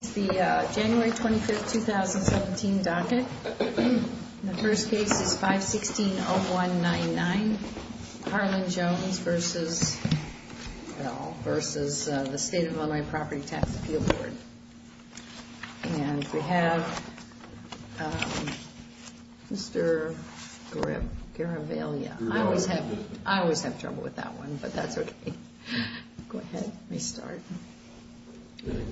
It's the January 25th, 2017 docket. The first case is 516-0199, Harlan Jones versus, well, versus the State of Illinois Property Tax Appeal Board. And we have Mr. Garavaglia. I always have trouble with that one, but that's okay. Go ahead, restart. Mr.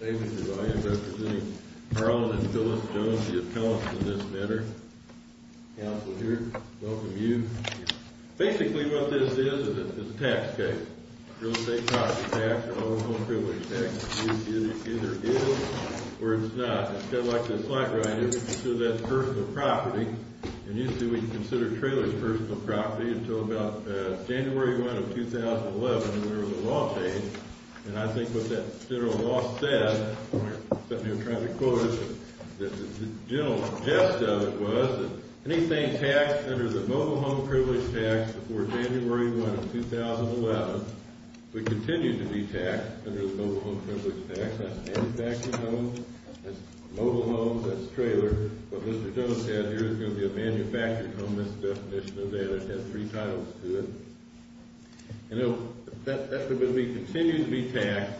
Garavaglia representing Harlan and Phyllis Jones, the appellants in this matter. Counselor here. Welcome you. Basically what this is is a tax case, real estate property tax, mobile home privilege tax. It either is or it's not. It's kind of like this slide right here. We consider that personal property, and usually we consider trailers personal property until about January 1 of 2011 when we were in the law phase. And I think what that federal law said, something I'm trying to quote is that the general gist of it was that anything taxed under the mobile home privilege tax before January 1 of 2011 would continue to be taxed under the mobile home privilege tax. That's manufactured homes, that's mobile homes, that's trailers. What Mr. Jones said here is it's going to be a manufactured home. That's the definition of that. It has three titles to it. And that's going to continue to be taxed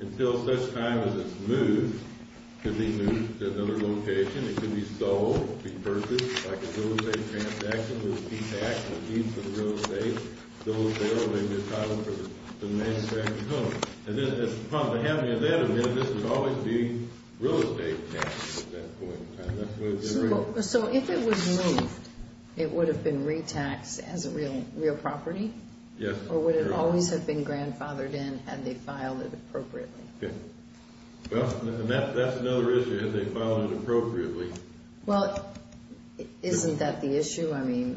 until such time as it's moved. It could be moved to another location. It could be sold, be purchased, like a real estate transaction, be taxed, be for the real estate. Those there will be entitled to the manufactured home. And then as far as the handling of that, this would always be real estate tax at that point. So if it was moved, it would have been retaxed as a real property? Yes. Or would it always have been grandfathered in had they filed it appropriately? Well, that's another issue, had they filed it appropriately. Well, isn't that the issue?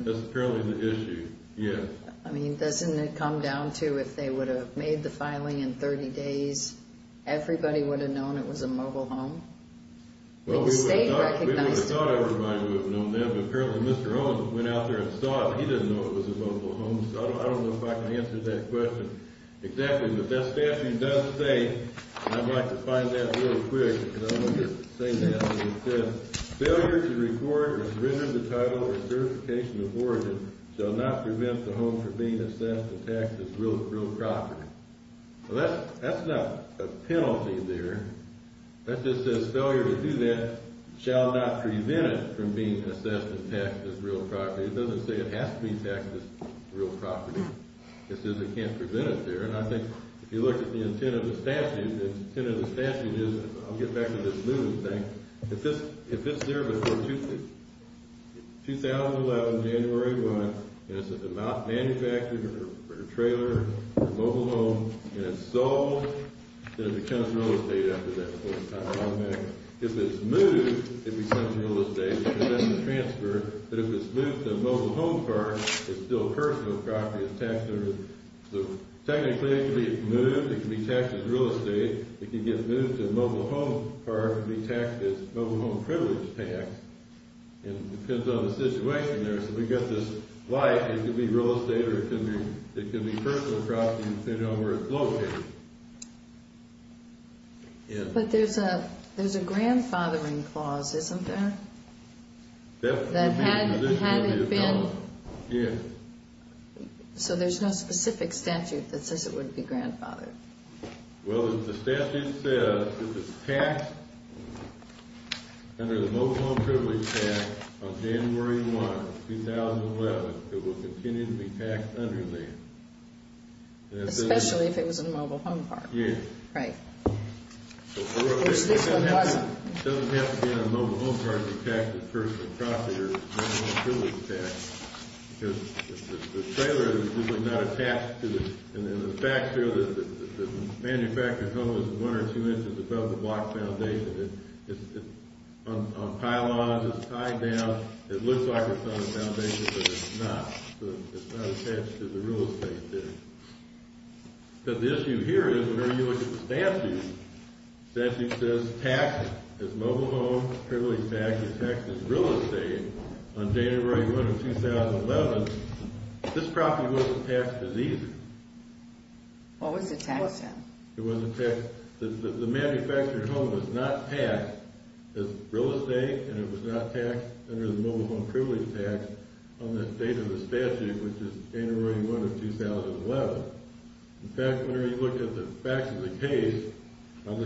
That's apparently the issue, yes. I mean, doesn't it come down to if they would have made the filing in 30 days, everybody would have known it was a mobile home? Well, we would have thought everybody would have known that, but apparently Mr. Jones went out there and saw it, and he didn't know it was a mobile home. So I don't know if I can answer that question exactly, but that statute does say, and I'd like to find that real quick, and I'll just say that, and it says, Failure to record or surrender the title or certification of origin shall not prevent the home from being assessed and taxed as real property. Well, that's not a penalty there. That just says failure to do that shall not prevent it from being assessed and taxed as real property. It doesn't say it has to be taxed as real property. It says it can't prevent it there, and I think if you look at the intent of the statute, I'll get back to this moving thing. If it's there before 2011, January 1, and it's a manufactured, or a trailer, or a mobile home, and it's sold, then it becomes real estate after that. If it's moved, it becomes real estate. It doesn't transfer, but if it's moved to a mobile home park, it's still personal property. Technically, it can be moved. It can be taxed as real estate. It can get moved to a mobile home park and be taxed as mobile home privilege tax, and it depends on the situation there. So we've got this life. It could be real estate, or it could be personal property, depending on where it's located. But there's a grandfathering clause, isn't there? That had it been. So there's no specific statute that says it would be grandfathered. Well, the statute says if it's taxed under the mobile home privilege tax on January 1, 2011, it will continue to be taxed under there. Especially if it was a mobile home park. Yes. Right. Which this one wasn't. It doesn't have to be in a mobile home park to be taxed as personal property or mobile home privilege tax, because the trailer is not attached to it. And then the fact here is that the manufacturer's home is one or two inches above the block foundation. It's on pylons. It's tied down. It looks like it's on the foundation, but it's not. So it's not attached to the real estate there. But the issue here is, whenever you look at the statute, the statute says taxed as mobile home privilege tax and taxed as real estate on January 1, 2011. This property wasn't taxed as either. What was it taxed on? It wasn't taxed. The manufacturer's home was not taxed as real estate, and it was not taxed under the mobile home privilege tax on the date of the statute, which is January 1 of 2011. In fact, whenever you look at the facts of the case, I'll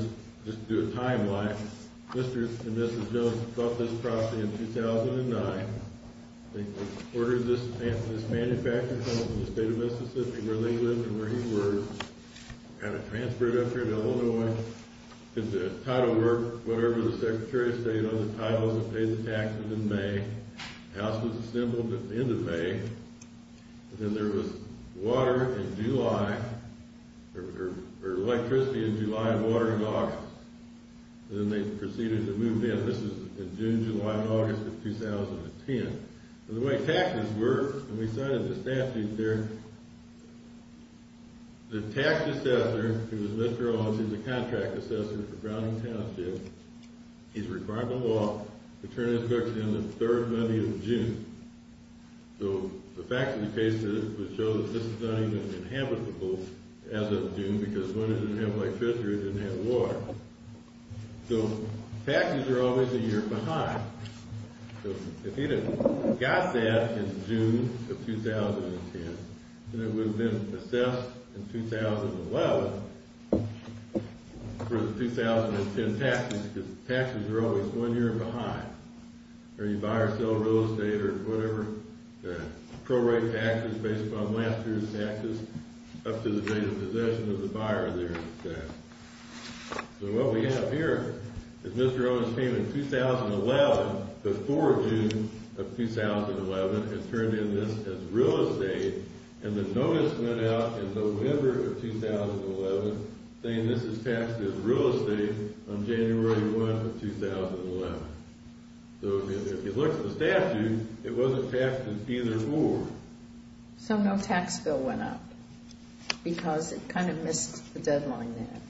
just do a timeline. Mr. and Mrs. Jones bought this property in 2009. They ordered this manufacturer's home from the state of Mississippi, where they lived and where he worked, and it transferred up here to Illinois. The title work, whatever the Secretary of State, other titles, it paid the taxes in May. The house was assembled at the end of May. Then there was water in July, or electricity in July and water in August. Then they proceeded to move in. This is in June, July, and August of 2010. The way taxes work, and we cited the statute there, the tax assessor, who is Mr. Owens, he's a contract assessor for Browning Township, he's required by law to turn his books in the third Monday of June. So the facts of the case would show that this is not even inhabitable as of June, because when it didn't have electricity, it didn't have water. So taxes are always a year behind. If he had got that in June of 2010, then it would have been assessed in 2011 for the 2010 taxes, because taxes are always one year behind, or you buy or sell real estate or whatever, pro-rate taxes based upon last year's taxes up to the date of possession of the buyer there. So what we have here is Mr. Owens came in 2011, before June of 2011, and turned in this as real estate, and the notice went out in November of 2011 saying this is taxed as real estate on January 1 of 2011. So if you look at the statute, it wasn't taxed in either four. So no tax bill went up, because it kind of missed the deadline there.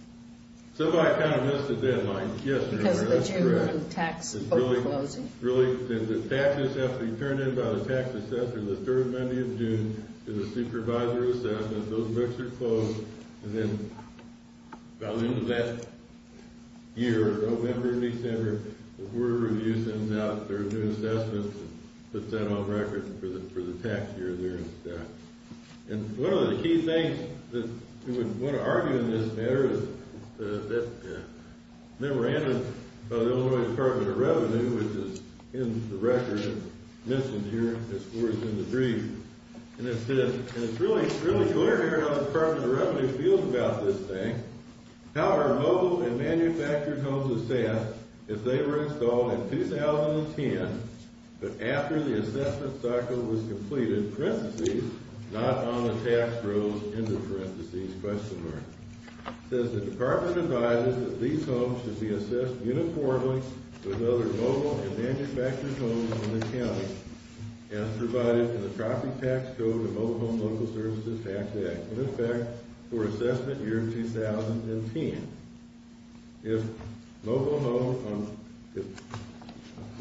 Somebody kind of missed the deadline, yes. Because of the June tax book closing. Really, the taxes, after you turn in by the tax assessor the third Monday of June, there's a supervisor assessment, those books are closed, and then by the end of that year, November, December, the Board of Review sends out their new assessments, and puts that on record for the tax year there instead. And one of the key things that we would want to argue in this matter is that memorandum of the Illinois Department of Revenue, which is in the record and mentioned here, as far as in the brief, and it says, and it's really clear here how the Department of Revenue feels about this thing, how are mobile and manufactured homes assessed if they were installed in 2010, but after the assessment cycle was completed, not on the tax rules, end of parentheses, question mark. It says the Department advises that these homes should be assessed uniformly with other mobile and manufactured homes in the county, as provided in the Property Tax Code and Mobile Home Local Services Tax Act. In effect, for assessment year 2010. If mobile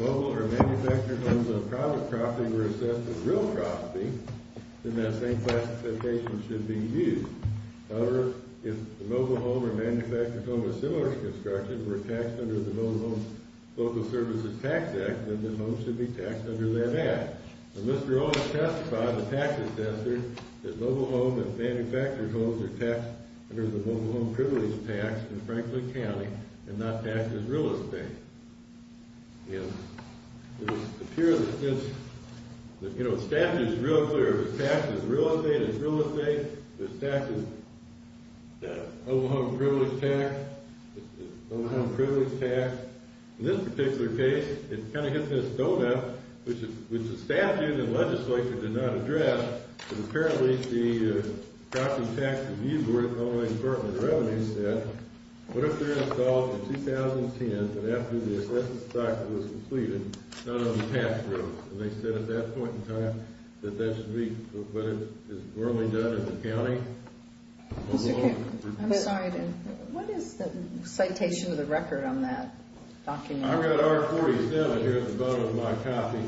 or manufactured homes on private property were assessed as real property, then that same classification should be used. However, if the mobile home or manufactured home of similar construction were taxed under the Mobile Home Local Services Tax Act, then the home should be taxed under that Act. Mr. Owens testified, the tax assessor, that mobile home and manufactured homes are taxed under the Mobile Home Privileges Tax in Franklin County and not taxed as real estate. It appears that this, you know, the statute is real clear. If it's taxed as real estate, it's real estate. If it's taxed as Mobile Home Privileges Tax, it's Mobile Home Privileges Tax. In this particular case, it kind of hits the stone up, which the statute and legislature did not address, but apparently the Property Tax Review Board of the Illinois Department of Revenue said, what if they're installed in 2010, but after the assessment cycle is completed, not on the tax road? And they said at that point in time that that should be what is normally done in the county. I'm sorry, what is the citation of the record on that document? I've got R47 here at the bottom of my copy.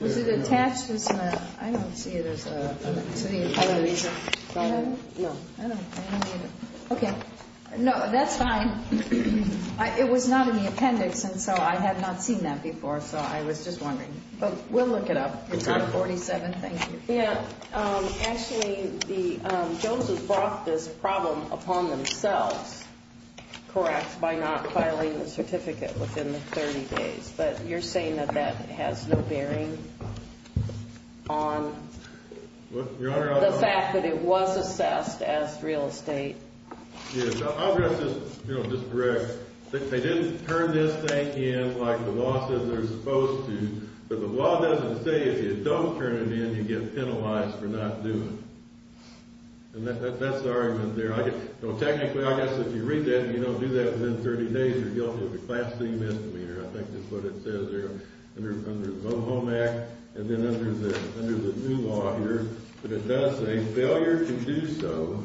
Was it attached to something? I don't see it. I don't either. Okay. No, that's fine. It was not in the appendix, and so I had not seen that before, so I was just wondering. But we'll look it up. It's R47. Thank you. Yeah. Actually, the Joneses brought this problem upon themselves, correct, by not filing the certificate within the 30 days, but you're saying that that has no bearing on the fact that it was assessed as real estate? Yes. I'll just correct. They didn't turn this thing in like the law says they're supposed to, but the law doesn't say if you don't turn it in, you get penalized for not doing it. And that's the argument there. Technically, I guess if you read that and you don't do that within 30 days, you're guilty of a Class C misdemeanor. I think that's what it says there under the Moe Home Act and then under the new law here. But it does say, failure to do so,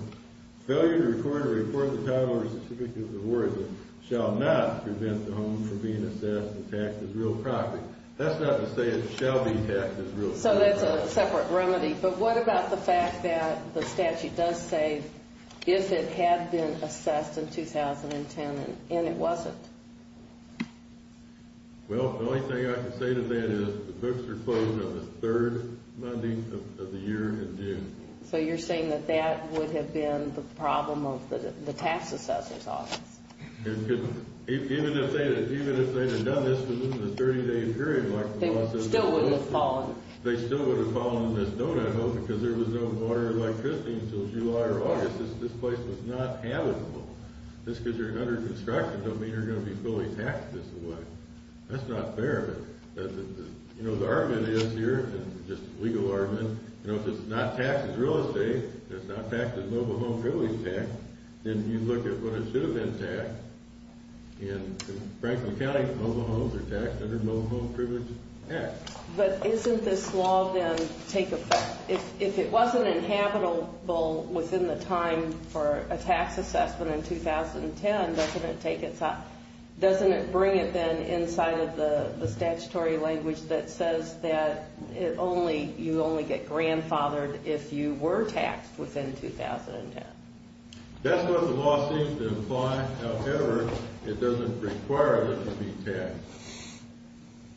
failure to record or report the title or certificate of award shall not prevent the home from being assessed and taxed as real property. That's not to say it shall be taxed as real property. So that's a separate remedy. But what about the fact that the statute does say if it had been assessed in 2010 and it wasn't? Well, the only thing I can say to that is the books are closed on the third Monday of the year in June. So you're saying that that would have been the problem of the tax assessor's office? Even if they had done this within a 30-day period like the law says. They still wouldn't have fallen? They still wouldn't have fallen on this note, I hope, because there was no order like Christine's until July or August. This place was not habitable. Just because you're under construction doesn't mean you're going to be fully taxed this way. That's not fair. The argument is here, just a legal argument, if it's not taxed as real estate, if it's not taxed as mobile home privilege tax, then you look at what it should have been taxed. In Franklin County, mobile homes are taxed under the Mobile Home Privilege Act. But isn't this law then take effect? If it wasn't inhabitable within the time for a tax assessment in 2010, doesn't it bring it then That's what the law seems to imply. However, it doesn't require that you be taxed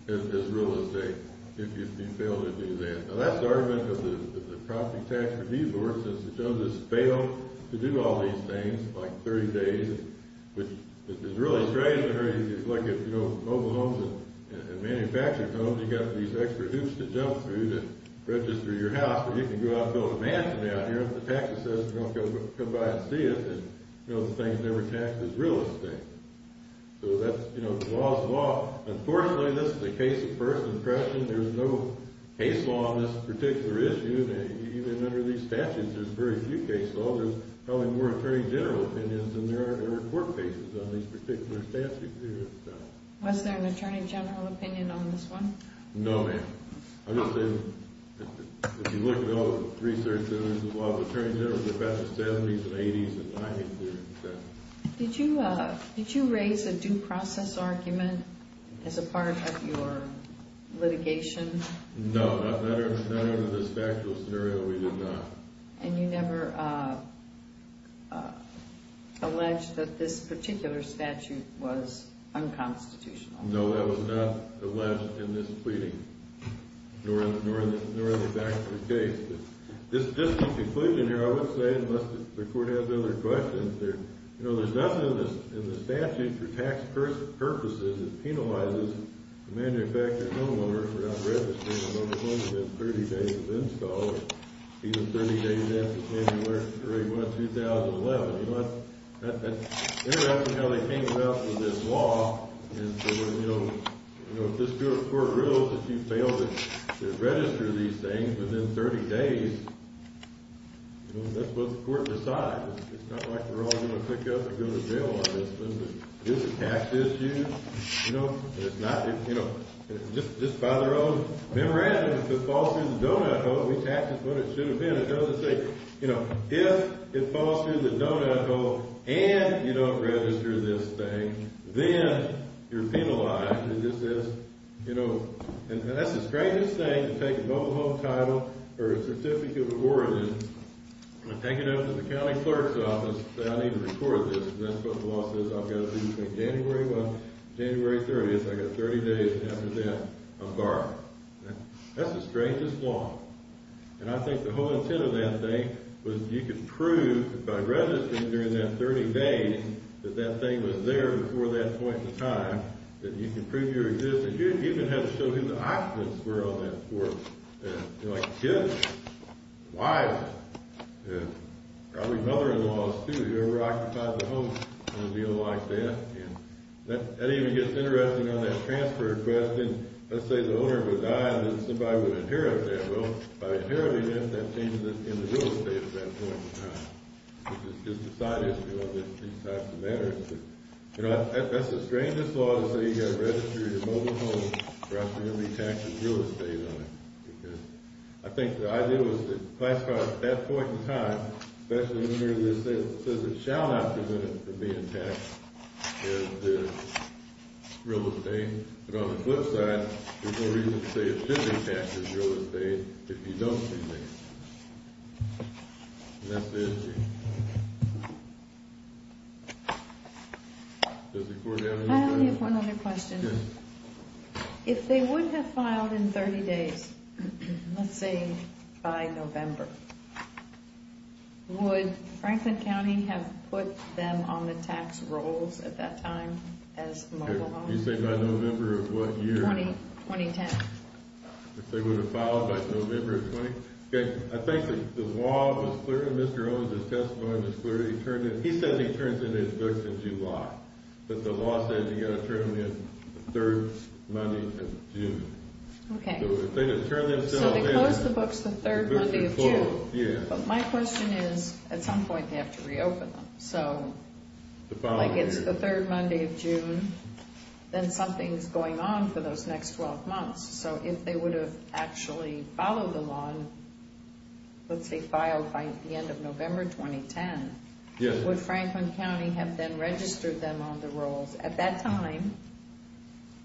as real estate if you fail to do that. Now, that's the argument of the Property Tax Review Board. Since it says it's failed to do all these things, like 30 days, which is really strange. If you look at mobile homes and manufactured homes, you've got these extra hoops to jump through to register your house. You can go out and build a mansion out here if the tax assessment says come by and see it. The thing is never taxed as real estate. So that's law is law. Unfortunately, this is a case of first impression. There's no case law on this particular issue. Even under these statutes, there's very few case laws. There's probably more Attorney General opinions than there are court cases on these particular statutes. Was there an Attorney General opinion on this one? No, ma'am. I'm just saying, if you look at all the research that was involved, Attorney Generals are back in the 70s and 80s and 90s. Did you raise a due process argument as a part of your litigation? No, not under this factual scenario, we did not. And you never alleged that this particular statute was unconstitutional? No, that was not alleged in this pleading, nor in the factual case. Just in conclusion here, I would say, unless the court has other questions, there's nothing in the statute for tax purposes that penalizes the manufacturer and homeowner for not registering and only going to get 30 days of install, even 30 days after January 1, 2011. You know, that's interesting how they came up with this law. And so, you know, if this court rules that you fail to register these things within 30 days, you know, that's what the court decides. It's not like we're all going to pick up and go to jail on this one. Is it a tax issue? You know, it's not. You know, just by their own memorandum, if it falls through the donut hole, we tax it when it should have been. You know, if it falls through the donut hole and you don't register this thing, then you're penalized. And that's the strangest thing to take a mobile home title or a certificate of origin and take it over to the county clerk's office and say, I need to record this because that's what the law says I've got to do between January 1 and January 30th. I've got 30 days after that of borrowing. That's the strangest law. And I think the whole intent of that thing was you could prove, by registering during that 30 days, that that thing was there before that point in time, that you could prove your existence. You even had to show who the occupants were on that court. You know, like kids, wives, probably mother-in-laws, too, who ever occupied the home in a deal like that. And that even gets interesting on that transfer request. Let's say the owner would die and somebody would inherit that. Well, by inheriting it, that changes it in the real estate at that point in time. It just decides these types of matters. You know, that's the strangest law to say you've got to register your mobile home or else you're going to be taxed with real estate on it. I think the idea was to classify it at that point in time, especially when it says it shall not be presented for being taxed as real estate. But on the flip side, there's no reason to say it should be taxed as real estate if you don't see things. And that's the issue. I only have one other question. If they would have filed in 30 days, let's say by November, would Franklin County have put them on the tax rolls at that time as mobile homes? You say by November of what year? 2010. If they would have filed by November of 2010? I think the law was clear and Mr. Owens' testimony was clear. He said he turns in his books in July. But the law says you've got to turn them in the third Monday of June. Okay. So they close the books the third Monday of June. Yeah. But my question is, at some point they have to reopen them. Like it's the third Monday of June, then something's going on for those next 12 months. So if they would have actually followed the law, let's say filed by the end of November 2010, would Franklin County have then registered them on the rolls at that time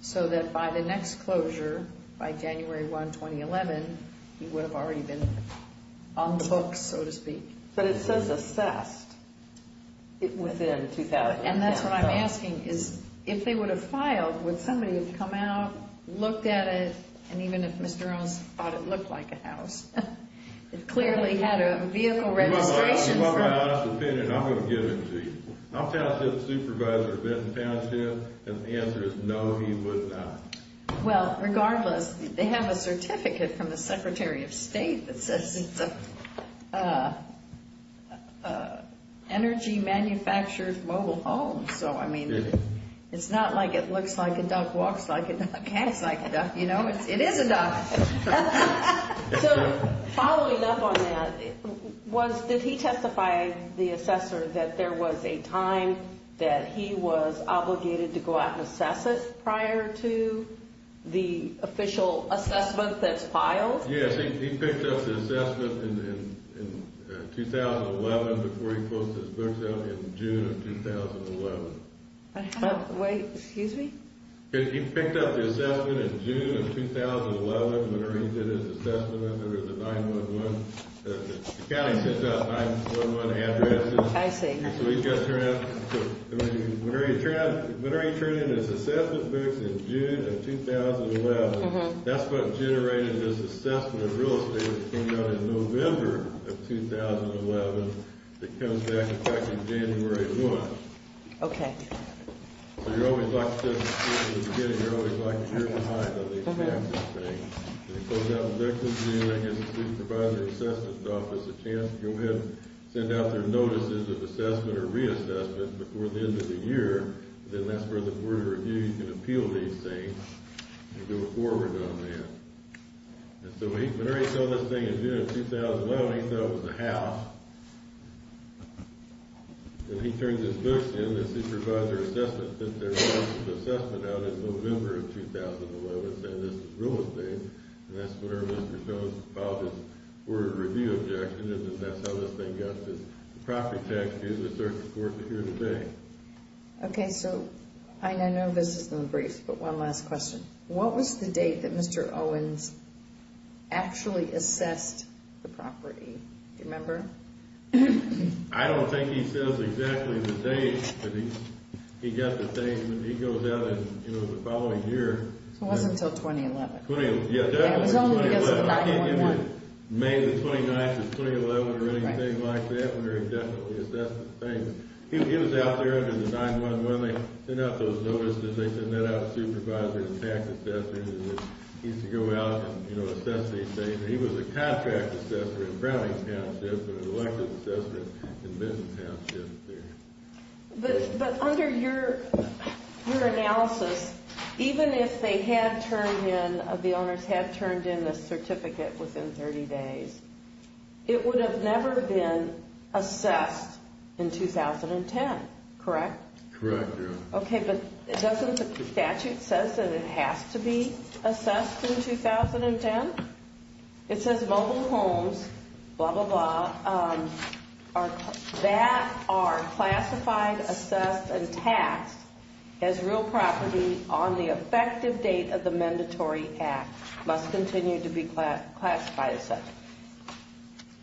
so that by the next closure, by January 1, 2011, he would have already been on the books, so to speak? But it says assessed within 2010. And that's what I'm asking is, if they would have filed, would somebody have come out, looked at it, and even if Mr. Owens thought it looked like a house? It clearly had a vehicle registration for it. Well, my honest opinion, I'm going to give it to you. I'll pass it to the Supervisor of Benton Township, and the answer is no, he would not. Well, regardless, they have a certificate from the Secretary of State that says it's an energy-manufactured mobile home. So, I mean, it's not like it looks like a duck, walks like a duck, hangs like a duck, you know? It is a duck. So following up on that, did he testify, the assessor, that there was a time that he was obligated to go out and assess it prior to the official assessment that's filed? Yes, he picked up the assessment in 2011 before he posted his books out in June of 2011. Wait, excuse me? He picked up the assessment in June of 2011 whenever he did his assessment under the 9-1-1. The county sends out 9-1-1 addresses. I see. Whenever he turned in his assessment books in June of 2011, that's what generated this assessment of real estate that came out in November of 2011 that comes back in January of what? Okay. So you're always lucky to get it. You're always lucky. You're behind on the assessment thing. When he closed out his books in June, I guess the supervisor assessment office had a chance to go ahead and send out their notices of assessment or reassessment before the end of the year. Then that's where the Board of Review can appeal these things and do a forward on that. And so whenever he saw this thing in June of 2011, he thought it was a house. When he turned his books in, the supervisor assessment sent their notices of assessment out in November of 2011, saying this is real estate. And that's where Mr. Jones filed his Board of Review objection, and that's how this thing got this property tax due. This is our report for here today. Okay, so I know this is going to be brief, but one last question. What was the date that Mr. Owens actually assessed the property? Do you remember? I don't think he says exactly the date, but he goes out in the following year. It wasn't until 2011. Yeah, definitely. It was only until 9-1-1. I can't give you May the 29th of 2011 or anything like that, where he definitely assessed the thing. He was out there under the 9-1-1. They sent out those notices. They sent that out to supervisors and tax assessors. He used to go out and assess these things. He was a contract assessor in Browning Township and an elected assessor in Midden Township. But under your analysis, even if the owners had turned in the certificate within 30 days, it would have never been assessed in 2010, correct? Correct, Your Honor. Okay, but doesn't the statute say that it has to be assessed in 2010? It says mobile homes, blah, blah, blah, that are classified, assessed, and taxed as real property on the effective date of the mandatory act, must continue to be classified as such.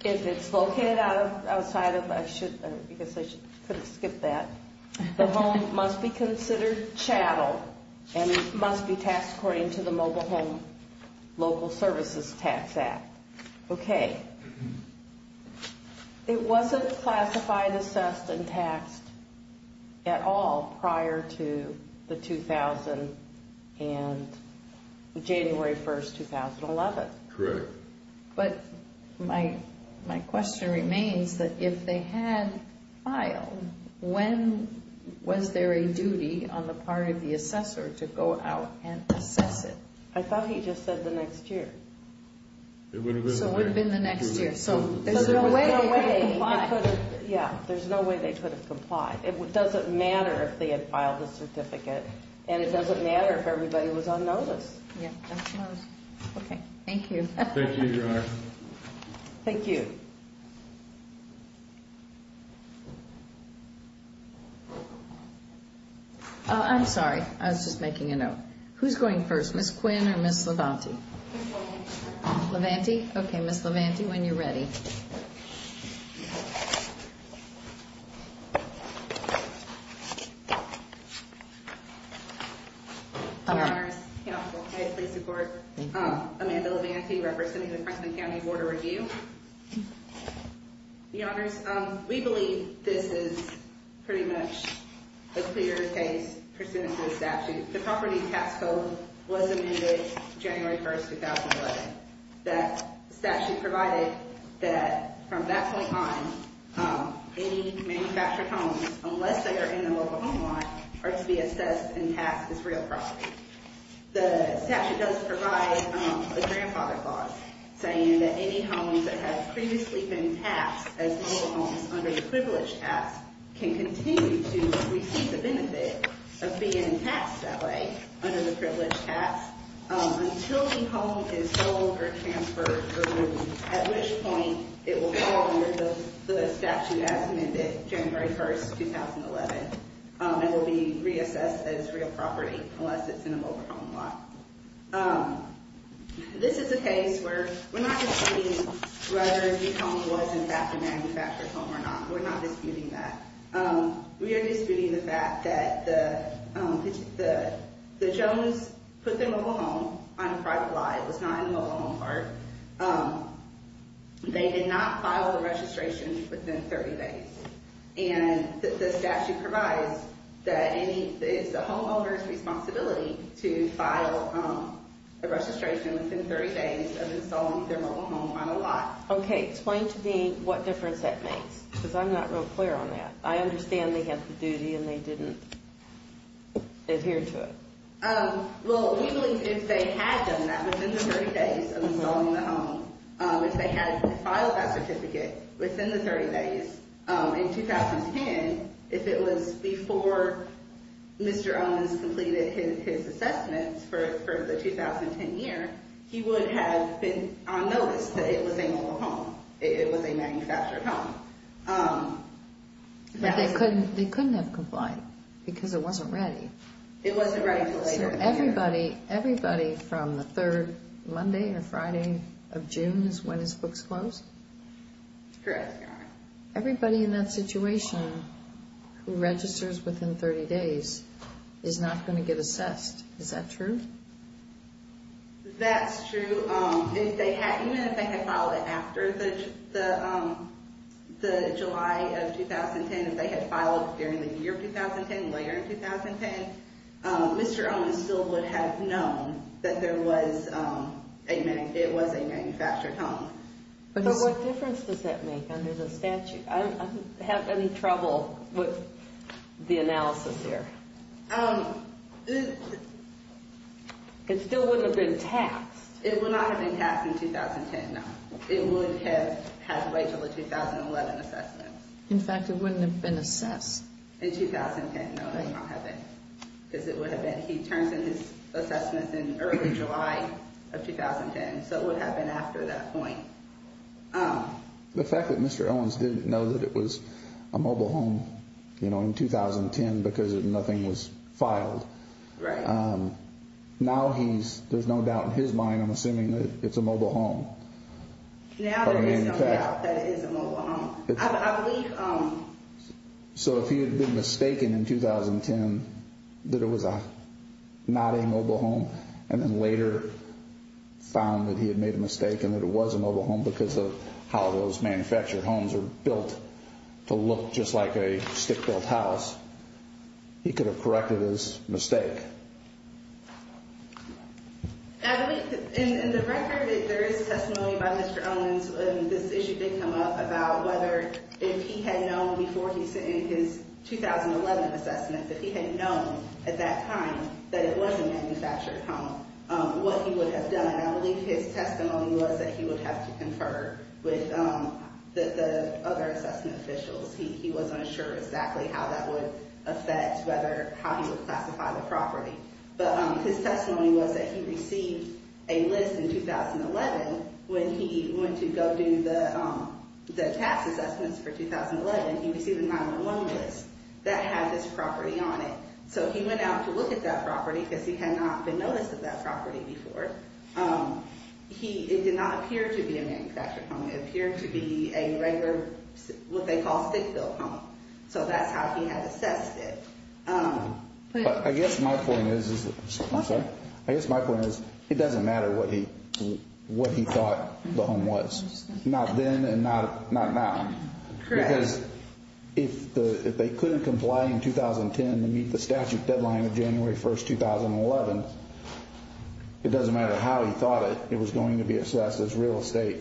If it's located outside of, I guess I could have skipped that, the home must be considered chattel and it must be taxed according to the Mobile Home Local Services Tax Act. Okay, it wasn't classified, assessed, and taxed at all prior to the 2000 and January 1st, 2011. Correct. But my question remains that if they had filed, when was there a duty on the part of the assessor to go out and assess it? I thought he just said the next year. So it would have been the next year. So there's no way they could have complied. Yeah, there's no way they could have complied. It doesn't matter if they had filed the certificate and it doesn't matter if everybody was on notice. Yeah, that's right. Okay, thank you. Thank you, Your Honor. Thank you. I'm sorry, I was just making a note. Who's going first, Ms. Quinn or Ms. Levanti? Ms. Levanti. Levanti? Okay, Ms. Levanti, when you're ready. Thank you. Your Honor, may I please support Amanda Levanti, representing the Franklin County Board of Review? Your Honors, we believe this is pretty much a clear case pursuant to the statute. The property tax code was amended January 1st, 2011. The statute provided that from that point on, any manufactured homes, unless they are in the local home lot, are to be assessed and taxed as real property. The statute does provide a grandfather clause saying that any homes that have previously been taxed as local homes under the privileged tax can continue to receive the benefit of being taxed that way under the privileged tax until the home is sold or transferred, at which point it will fall under the statute as amended January 1st, 2011. It will be reassessed as real property unless it's in a local home lot. This is a case where we're not disputing whether the home was in fact a manufactured home or not. We're not disputing that. We are disputing the fact that the Jones put their local home on a private lot. It was not in the local home part. They did not file the registration within 30 days. And the statute provides that it's the homeowner's responsibility to file a registration within 30 days of installing their local home on a lot. Okay. Explain to me what difference that makes because I'm not real clear on that. I understand they have the duty and they didn't adhere to it. Well, we believe if they had done that within the 30 days of installing the home, if they had filed that certificate within the 30 days in 2010, if it was before Mr. Owens completed his assessments for the 2010 year, he would have been on notice that it was a local home, it was a manufactured home. But they couldn't have complied because it wasn't ready. It wasn't ready until later that year. So everybody from the third Monday or Friday of June is when his books closed? Correct. Everybody in that situation who registers within 30 days is not going to get assessed. Is that true? That's true. Even if they had filed it after the July of 2010, if they had filed it during the year 2010, later in 2010, Mr. Owens still would have known that it was a manufactured home. But what difference does that make under the statute? I don't have any trouble with the analysis here. It still wouldn't have been taxed. It would not have been taxed in 2010, no. It would have had to wait until the 2011 assessment. In fact, it wouldn't have been assessed. In 2010, no, it would not have been. Because it would have been. He turns in his assessments in early July of 2010, so it would have been after that point. The fact that Mr. Owens didn't know that it was a mobile home in 2010 because nothing was filed, now there's no doubt in his mind I'm assuming that it's a mobile home. Now there is no doubt that it is a mobile home. I believe... So if he had been mistaken in 2010 that it was not a mobile home, and then later found that he had made a mistake and that it was a mobile home because of how those manufactured homes are built to look just like a stick-built house, he could have corrected his mistake. In the record, there is testimony by Mr. Owens. This issue did come up about whether if he had known before he sent in his 2011 assessment that he had known at that time that it was a manufactured home, what he would have done. I believe his testimony was that he would have to confer with the other assessment officials. He wasn't sure exactly how that would affect how he would classify the property. But his testimony was that he received a list in 2011 when he went to go do the tax assessments for 2011. He received a 9-1-1 list that had this property on it. So he went out to look at that property because he had not been noticed at that property before. It did not appear to be a manufactured home. It appeared to be a regular what they call stick-built home. So that's how he had assessed it. I guess my point is it doesn't matter what he thought the home was, not then and not now. Correct. Because if they couldn't comply in 2010 to meet the statute deadline of January 1, 2011, it doesn't matter how he thought it, it was going to be assessed as real estate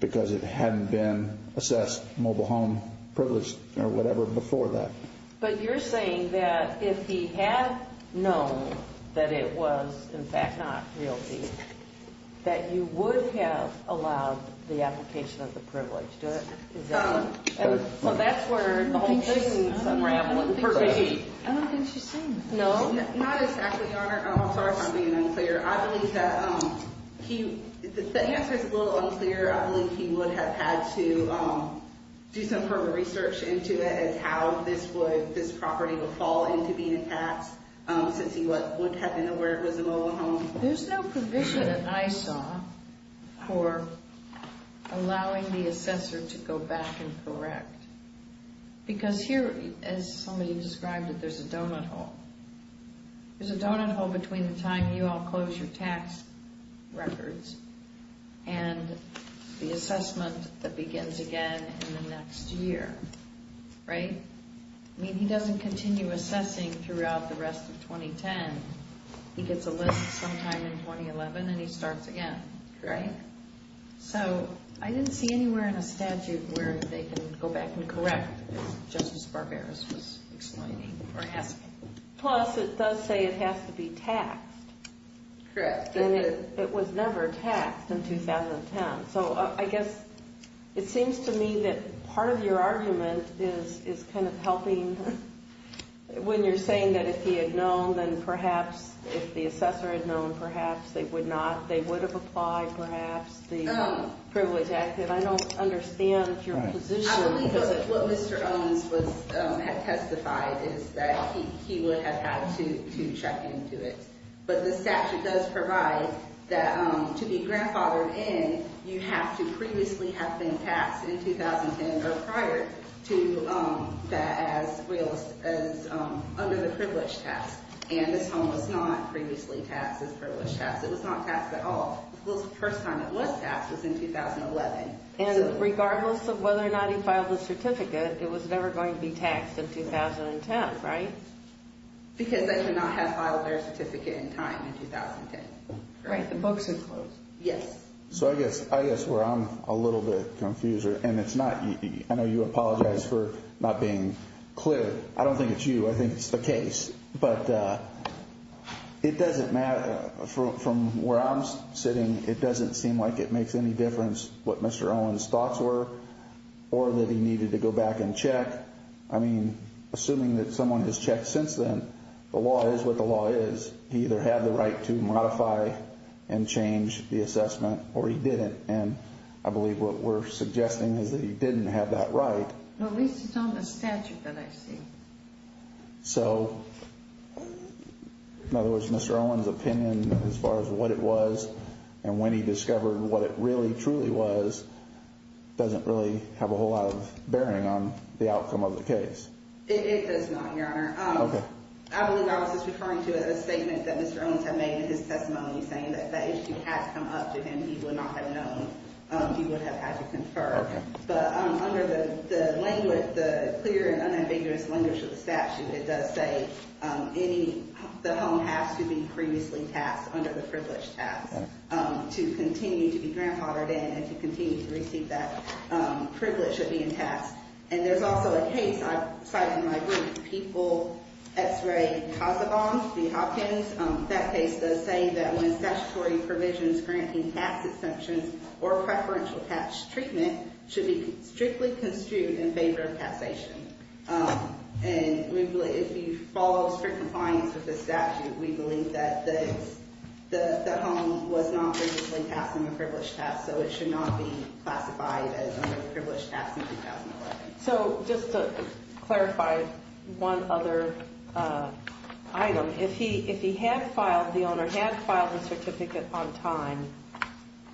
because it hadn't been assessed mobile home privilege or whatever before that. But you're saying that if he had known that it was, in fact, not real estate, that you would have allowed the application of the privilege, is that right? So that's where the whole thing is unraveling. I don't think she's saying that. No. Not exactly, Your Honor. I'm sorry if I'm being unclear. I believe that the answer is a little unclear. I believe he would have had to do some further research into it and how this property would fall into being a tax since he would have been aware it was a mobile home. There's no provision in ISAW for allowing the assessor to go back and correct. Because here, as somebody described it, there's a donut hole. There's a donut hole between the time you all close your tax records and the assessment that begins again in the next year, right? I mean, he doesn't continue assessing throughout the rest of 2010. He gets a list sometime in 2011 and he starts again, right? So I didn't see anywhere in a statute where they can go back and correct, just as Barbaros was explaining, or has to. Plus, it does say it has to be taxed. Correct. And it was never taxed in 2010. So I guess it seems to me that part of your argument is kind of helping. When you're saying that if he had known, then perhaps if the assessor had known, perhaps they would have applied perhaps the Privilege Act. I don't understand your position. I believe that what Mr. Owens had testified is that he would have had to check into it. But the statute does provide that to be grandfathered in, you have to previously have been taxed in 2010 or prior to that as under the Privilege Tax. And this home was not previously taxed as Privilege Tax. It was not taxed at all. The first time it was taxed was in 2011. And regardless of whether or not he filed a certificate, it was never going to be taxed in 2010, right? Because they could not have filed their certificate in time in 2010. Right, the books are closed. Yes. So I guess where I'm a little bit confused, and it's not you. I know you apologized for not being clear. I don't think it's you. I think it's the case. But it doesn't matter from where I'm sitting, it doesn't seem like it makes any difference what Mr. Owens' thoughts were or that he needed to go back and check. I mean, assuming that someone has checked since then, the law is what the law is. He either had the right to modify and change the assessment or he didn't. And I believe what we're suggesting is that he didn't have that right. Well, at least it's on the statute that I see. So, in other words, Mr. Owens' opinion as far as what it was and when he discovered what it really truly was doesn't really have a whole lot of bearing on the outcome of the case. It does not, Your Honor. Okay. I believe I was just referring to a statement that Mr. Owens had made in his testimony saying that if that issue had come up to him, he would not have known. He would have had to confer. Okay. But under the clear and unambiguous language of the statute, it does say the home has to be previously taxed under the privileged tax to continue to be grandfathered in and to continue to receive that privilege of being taxed. And there's also a case I cite in my group, People X-Ray Casa Bombs v. Hopkins. That case does say that when statutory provisions granting tax exemptions or preferential tax treatment should be strictly construed in favor of taxation. And if you follow strict compliance with the statute, we believe that the home was not previously taxed under the privileged tax, so it should not be classified as under the privileged tax in 2011. So, just to clarify one other item, if the owner had filed the certificate on time,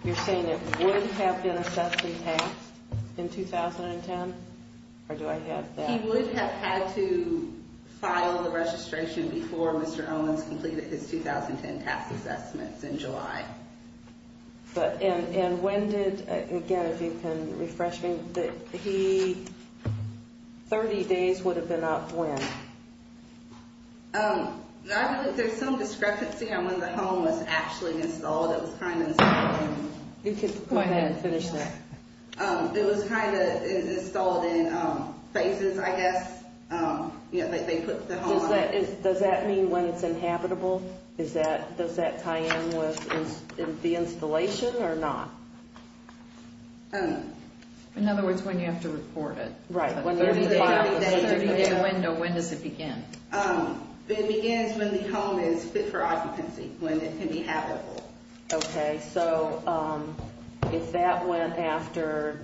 you're saying it would have been assessed and taxed in 2010? Or do I have that wrong? He would have had to file the registration before Mr. Owens completed his 2010 tax assessments in July. And when did, again, if you can refresh me, that he, 30 days would have been up when? There's some discrepancy on when the home was actually installed. You can go ahead and finish that. It was kind of installed in phases, I guess. Does that mean when it's inhabitable? Does that tie in with the installation or not? In other words, when you have to report it. Right. When does it begin? It begins when the home is fit for occupancy, when it can be habitable. Okay. So, if that went after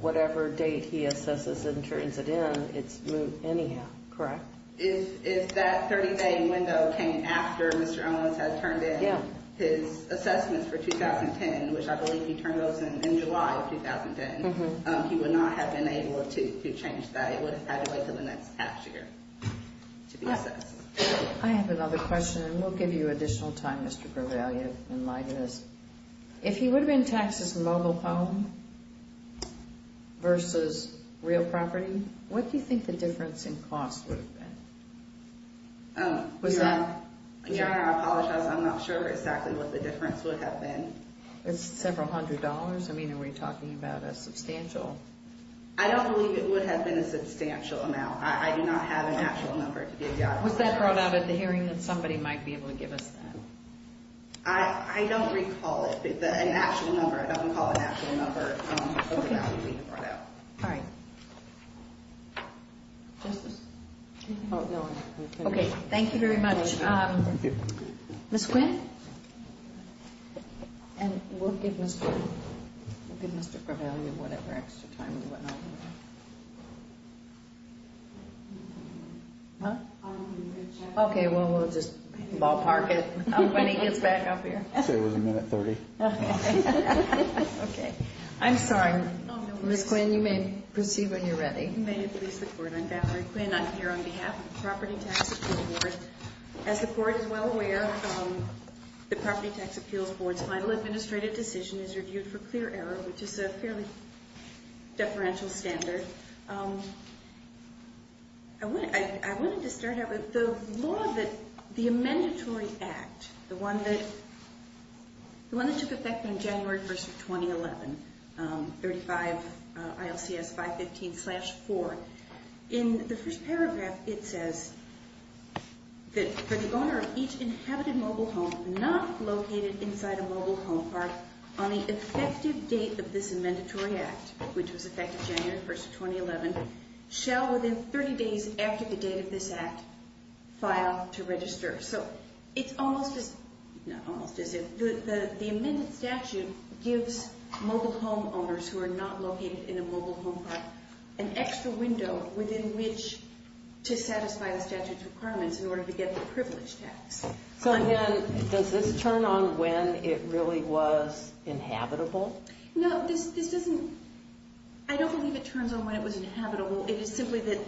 whatever date he assesses and turns it in, it's moved anyhow, correct? If that 30-day window came after Mr. Owens had turned in his assessments for 2010, which I believe he turned those in in July of 2010, he would not have been able to change that. It would have had to wait until the next half year to be assessed. I have another question, and we'll give you additional time, Mr. Corvallio, in light of this. If he would have been taxed as a mobile home versus real property, what do you think the difference in cost would have been? Your Honor, I apologize. I'm not sure exactly what the difference would have been. Several hundred dollars? I mean, are we talking about a substantial? I don't believe it would have been a substantial amount. I do not have an actual number to give you. Was that brought out at the hearing that somebody might be able to give us that? I don't recall it. An actual number, I don't recall an actual number of the value being brought out. Okay. All right. Justice? No, I'm finished. Okay. Thank you very much. Thank you. Ms. Quinn? And we'll give Mr. Corvallio whatever extra time we want. Huh? Okay, well, we'll just ballpark it when he gets back up here. I'd say it was a minute 30. Okay. I'm sorry. Ms. Quinn, you may proceed when you're ready. May it please the Court, I'm Valerie Quinn. I'm here on behalf of the Property Tax Attorney Board. As the Court is well aware, the Property Tax Appeals Board's final administrative decision is reviewed for clear error, which is a fairly deferential standard. I wanted to start out with the law that the Amendatory Act, the one that took effect on January 1st of 2011, 35 ILCS 515-4. In the first paragraph, it says that for the owner of each inhabited mobile home not located inside a mobile home park, on the effective date of this Amendatory Act, which was effective January 1st of 2011, shall, within 30 days after the date of this Act, file to register. So it's almost as if the amended statute gives mobile home owners who are not located in a mobile home park an extra window within which to satisfy the statute's requirements in order to get the privilege tax. So, again, does this turn on when it really was inhabitable? No, this doesn't. I don't believe it turns on when it was inhabitable. It is simply that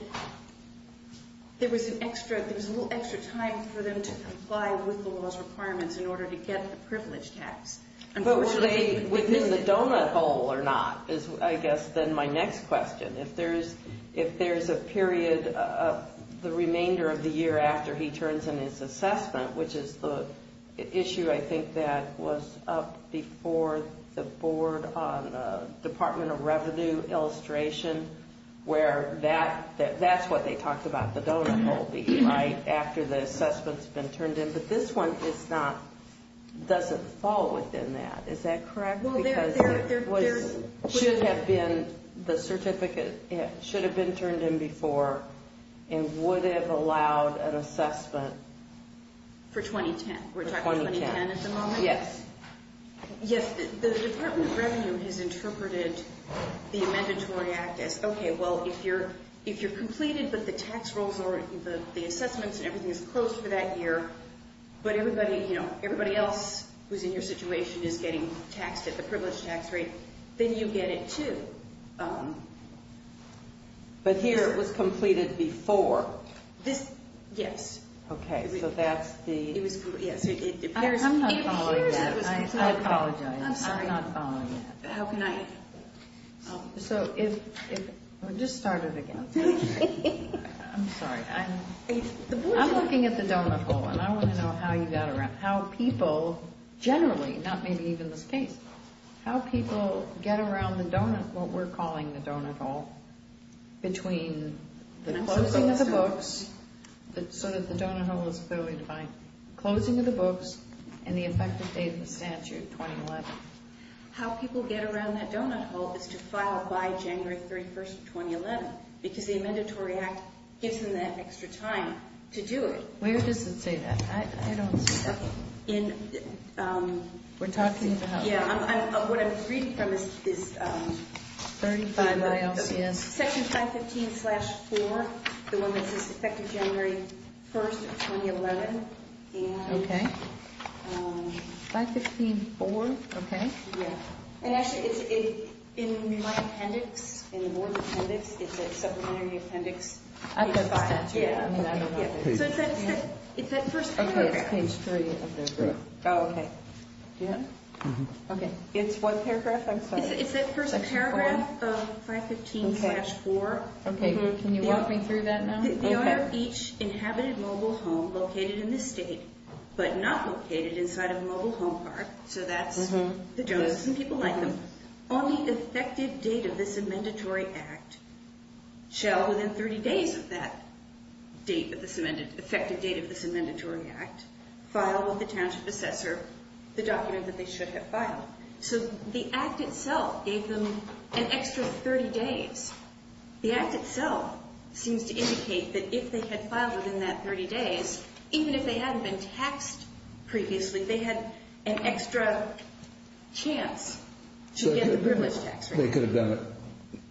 there was a little extra time for them to comply with the law's requirements in order to get the privilege tax. But within the donut bowl or not is, I guess, then my next question. If there's a period of the remainder of the year after he turns in his assessment, which is the issue I think that was up before the Board on Department of Revenue illustration, where that's what they talked about, the donut bowl being right after the assessment's been turned in. But this one doesn't fall within that. Is that correct? It should have been. The certificate should have been turned in before and would have allowed an assessment. For 2010? For 2010. We're talking 2010 at the moment? Yes. Yes. The Department of Revenue has interpreted the Amendatory Act as, okay, well, if you're completed, but the tax rolls or the assessments and everything is closed for that year, but everybody else who's in your situation is getting taxed at the privilege tax rate, then you get it too. But here it was completed before? Yes. Okay. So that's the? Yes. I'm not following that. I apologize. I'm sorry. I'm not following that. How can I? Just start it again. I'm sorry. I'm looking at the donut hole, and I want to know how you got around, how people generally, not maybe even this case, how people get around the donut, what we're calling the donut hole, between the closing of the books, so that the donut hole is clearly defined, closing of the books and the effective date of the statute, 2011. How people get around that donut hole is to file by January 31, 2011, because the Amendatory Act gives them that extra time to do it. Where does it say that? I don't see that. We're talking about? Yeah. What I'm reading from is section 515-4, the one that says effective January 1, 2011. Okay. 515-4. Okay. Actually, it's in my appendix, in the board appendix. It's a supplementary appendix. I've got 5. Yeah. I don't know. It's that first paragraph. Okay. It's page 3. Oh, okay. Yeah? Okay. It's what paragraph? I'm sorry. It's that first paragraph of 515-4. Okay. Can you walk me through that now? Okay. The owner of each inhabited mobile home located in the state, but not located inside a mobile home park. So that's the Joneses and people like them. On the effective date of this amendatory act, shall within 30 days of that date, effective date of this amendatory act, file with the township assessor the document that they should have filed. So the act itself gave them an extra 30 days. The act itself seems to indicate that if they had filed within that 30 days, even if they hadn't been taxed previously, they had an extra chance to get the privilege tax rate. They could have done it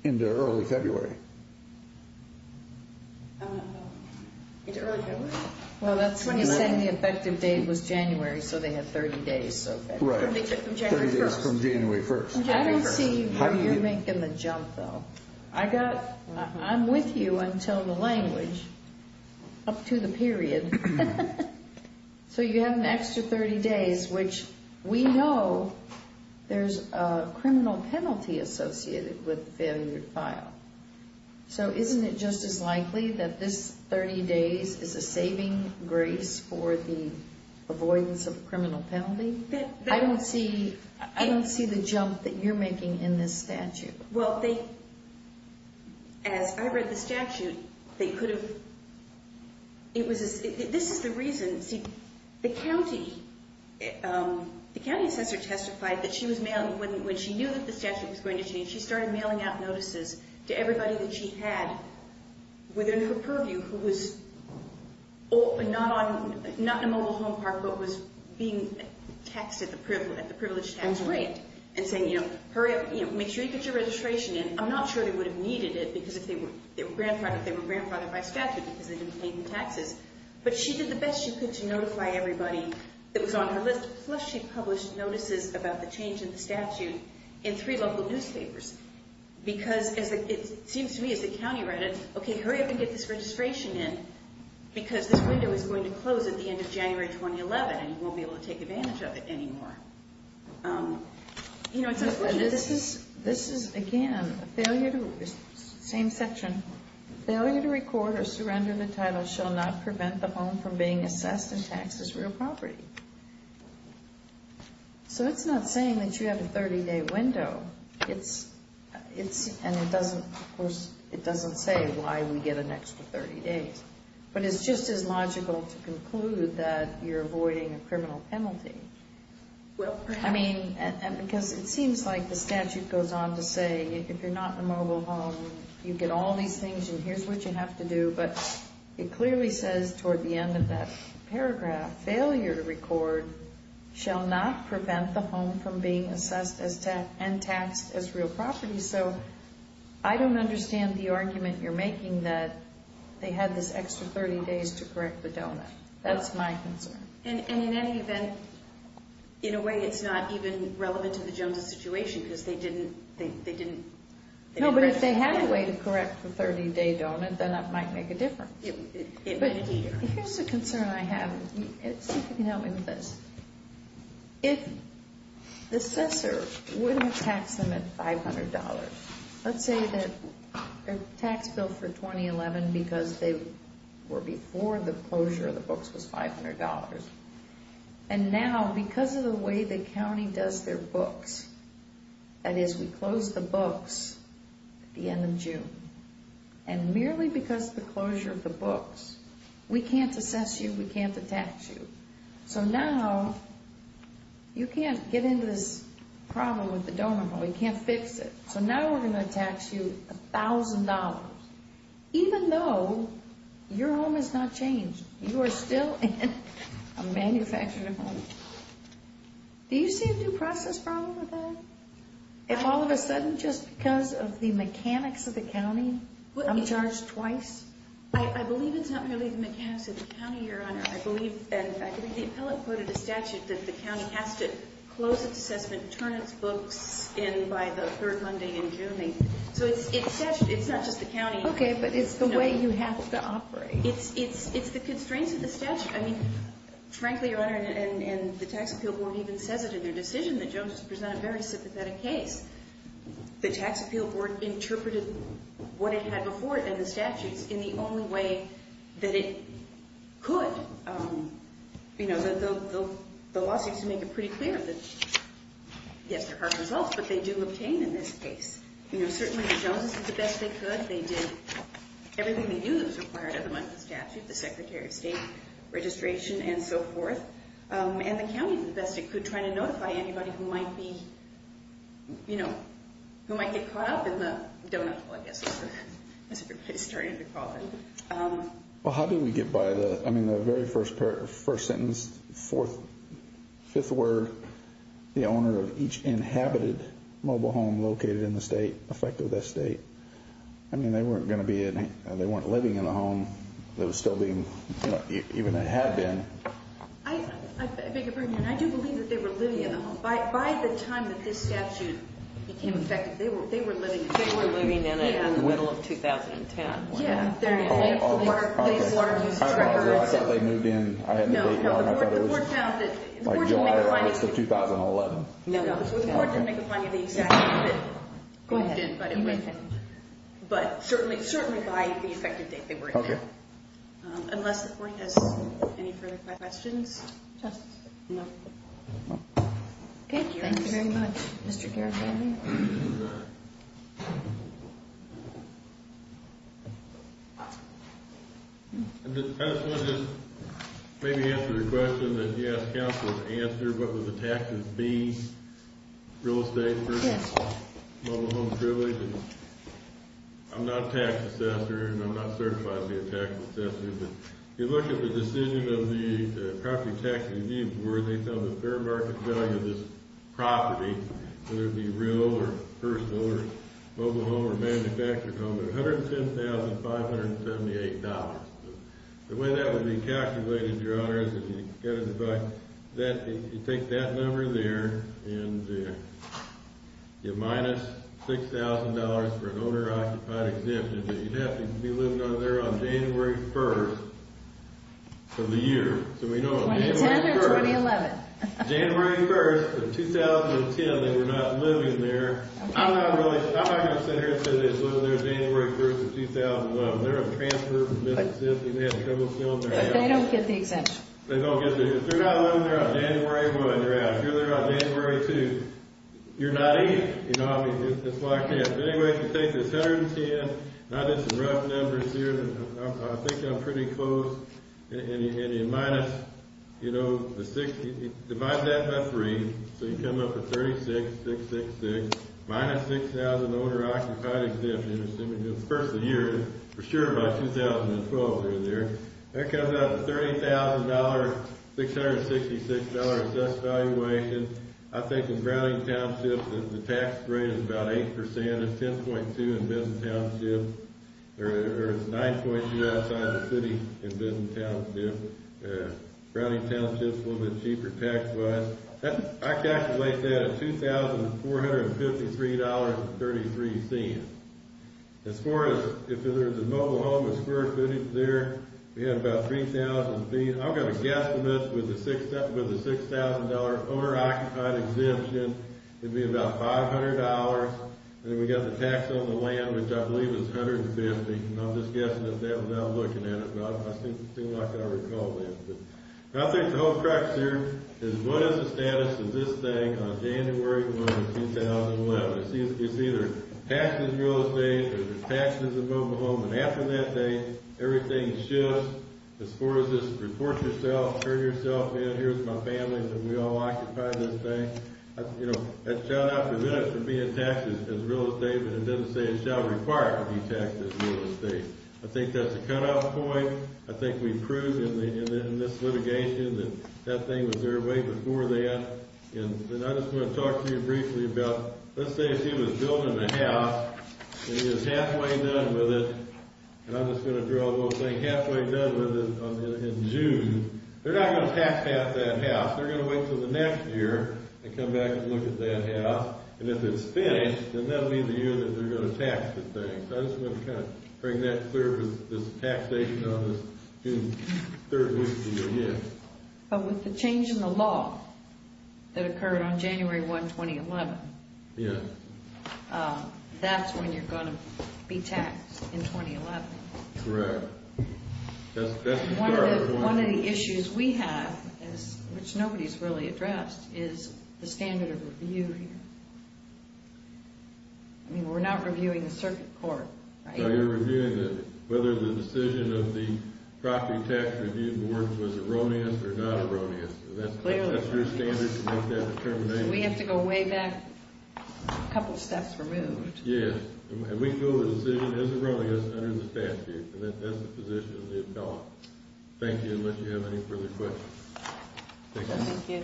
into early February. Into early February? Well, that's when you're saying the effective date was January, so they had 30 days of that. Right. 30 days from January 1st. I don't see where you're making the jump, though. I'm with you until the language, up to the period. So you have an extra 30 days, which we know there's a criminal penalty associated with the failure to file. So isn't it just as likely that this 30 days is a saving grace for the avoidance of a criminal penalty? I don't see the jump that you're making in this statute. Well, as I read the statute, this is the reason. The county assessor testified that when she knew that the statute was going to change, she started mailing out notices to everybody that she had within her purview who was not in a mobile home park but was being taxed at the privilege tax rate and saying, you know, hurry up, make sure you get your registration in. I'm not sure they would have needed it because if they were grandfathered by statute because they didn't pay the taxes. But she did the best she could to notify everybody that was on her list, plus she published notices about the change in the statute in three local newspapers. Because it seems to me as the county read it, okay, hurry up and get this registration in because this window is going to close at the end of January 2011 and you won't be able to take advantage of it anymore. You know, it's unfortunate. This is, again, the same section. Failure to record or surrender the title shall not prevent the home from being assessed and taxed as real property. So it's not saying that you have a 30-day window. And, of course, it doesn't say why we get an extra 30 days. But it's just as logical to conclude that you're avoiding a criminal penalty. I mean, because it seems like the statute goes on to say if you're not in a mobile home, you get all these things and here's what you have to do. But it clearly says toward the end of that paragraph, Failure to record shall not prevent the home from being assessed and taxed as real property. So I don't understand the argument you're making that they had this extra 30 days to correct the donut. That's my concern. And in any event, in a way, it's not even relevant to the Joneses' situation because they didn't... No, but if they had a way to correct the 30-day donut, then that might make a difference. But here's a concern I have. See if you can help me with this. If the assessor wouldn't tax them at $500, let's say that their tax bill for 2011, because they were before the closure of the books, was $500. And now, because of the way the county does their books, that is, we close the books at the end of June. And merely because of the closure of the books, we can't assess you, we can't tax you. So now, you can't get into this problem with the donut. We can't fix it. So now we're going to tax you $1,000, even though your home has not changed. You are still in a manufactured home. Do you see a due process problem with that? If all of a sudden, just because of the mechanics of the county, I'm charged twice? I believe it's not merely the mechanics of the county, Your Honor. I believe, in fact, I think the appellate quoted a statute that the county has to close its assessment, turn its books in by the third Monday in June. So it's not just the county. Okay, but it's the way you have to operate. It's the constraints of the statute. Frankly, Your Honor, and the Tax Appeal Board even says it in their decision, the Joneses present a very sympathetic case. The Tax Appeal Board interpreted what it had before it and the statutes in the only way that it could. The law seems to make it pretty clear that, yes, there are results, but they do obtain in this case. Certainly, the Joneses did the best they could. They did everything they knew that was required of them under the statute, the Secretary of State, registration, and so forth. And the county did the best it could trying to notify anybody who might be, you know, who might get caught up in the doughnut hole, I guess, as everybody's starting to call it. Well, how do we get by the, I mean, the very first sentence, fourth, fifth word, the owner of each inhabited mobile home located in the state, I mean, they weren't going to be in, they weren't living in the home. They were still being, you know, even they had been. I beg your pardon, Your Honor. I do believe that they were living in the home. By the time that this statute became effective, they were living in it. They were living in it in the middle of 2010. Yeah. I thought they moved in. I had no idea. I thought it was like July of 2011. No. The court didn't make a finding of the exact date. Go ahead. But certainly by the effective date they were in there. Okay. Unless the court has any further questions. Justice. No. Okay. Thank you very much, Mr. Garibaldi. I just want to just maybe answer the question that you asked counsel to answer. What would the taxes be, real estate versus mobile home privilege? And I'm not a tax assessor, and I'm not certified to be a tax assessor, but if you look at the decision of the Property Tax Review Board, based on the fair market value of this property, whether it be real or personal or mobile home or manufactured home, it's $110,578. The way that would be calculated, Your Honors, is you take that number there and you minus $6,000 for an owner-occupied exemption, but you'd have to be living under there on January 1st of the year. 2010 or 2011? January 1st of 2010. They were not living there. I'm not going to sit here and say they were living there January 1st of 2011. They're a transfer from Mississippi. They had trouble filling their house. But they don't get the exemption. They don't get the exemption. If they're not living there on January 1, they're out. If they're there on January 2, you're not eating. You know how it is. It's like that. But anyway, if you take this $110, and I did some rough numbers here, I think I'm pretty close, and you divide that by three, so you come up with $36,666 minus $6,000 owner-occupied exemption, assuming it's the first of the year, for sure by 2012 they're there. That comes out to $30,000, $666 assessed valuation. I think in Browning Township, the tax rate is about 8%. It's 10.2 in Bison Township. Or it's 9.2 outside of the city in Bison Township. Browning Township is a little bit cheaper tax-wise. I'd calculate that at $2,453.33. As far as if there's a mobile home with square footage there, we have about 3,000 feet. I'm going to guess from this with the $6,000 owner-occupied exemption, it would be about $500. Then we've got the tax on the land, which I believe is $150, and I'm just guessing at that without looking at it, but it seems like I recall that. I think the whole crux here is what is the status of this thing on January 1, 2011? It's either taxes on real estate or taxes on mobile homes, and after that date, everything shifts as far as this report yourself, turn yourself in, here's my family, and we all occupy this thing. That should not prevent it from being taxed as real estate, but it doesn't say it shall require it to be taxed as real estate. I think that's a cutoff point. I think we proved in this litigation that that thing was there way before that. I just want to talk to you briefly about, let's say she was building a house and is halfway done with it, and I'm just going to draw a little thing, halfway done with it in June. They're not going to tax that house. They're going to wait until the next year and come back and look at that house, and if it's finished, then that will be the year that they're going to tax the thing. So I just want to kind of bring that clear with this taxation on this June 3rd week of the year. But with the change in the law that occurred on January 1, 2011, that's when you're going to be taxed in 2011. Correct. One of the issues we have, which nobody's really addressed, is the standard of review here. I mean, we're not reviewing the circuit court, right? No, you're reviewing whether the decision of the property tax review board was erroneous or not erroneous. That's your standard to make that determination. We have to go way back a couple steps removed. Yes, and we feel the decision is erroneous under the statute. That's the position we have adopted. Thank you. Unless you have any further questions. Thank you.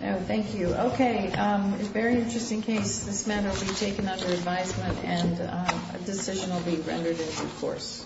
Thank you. Okay. It's a very interesting case. This matter will be taken under advisement, and a decision will be rendered in due course.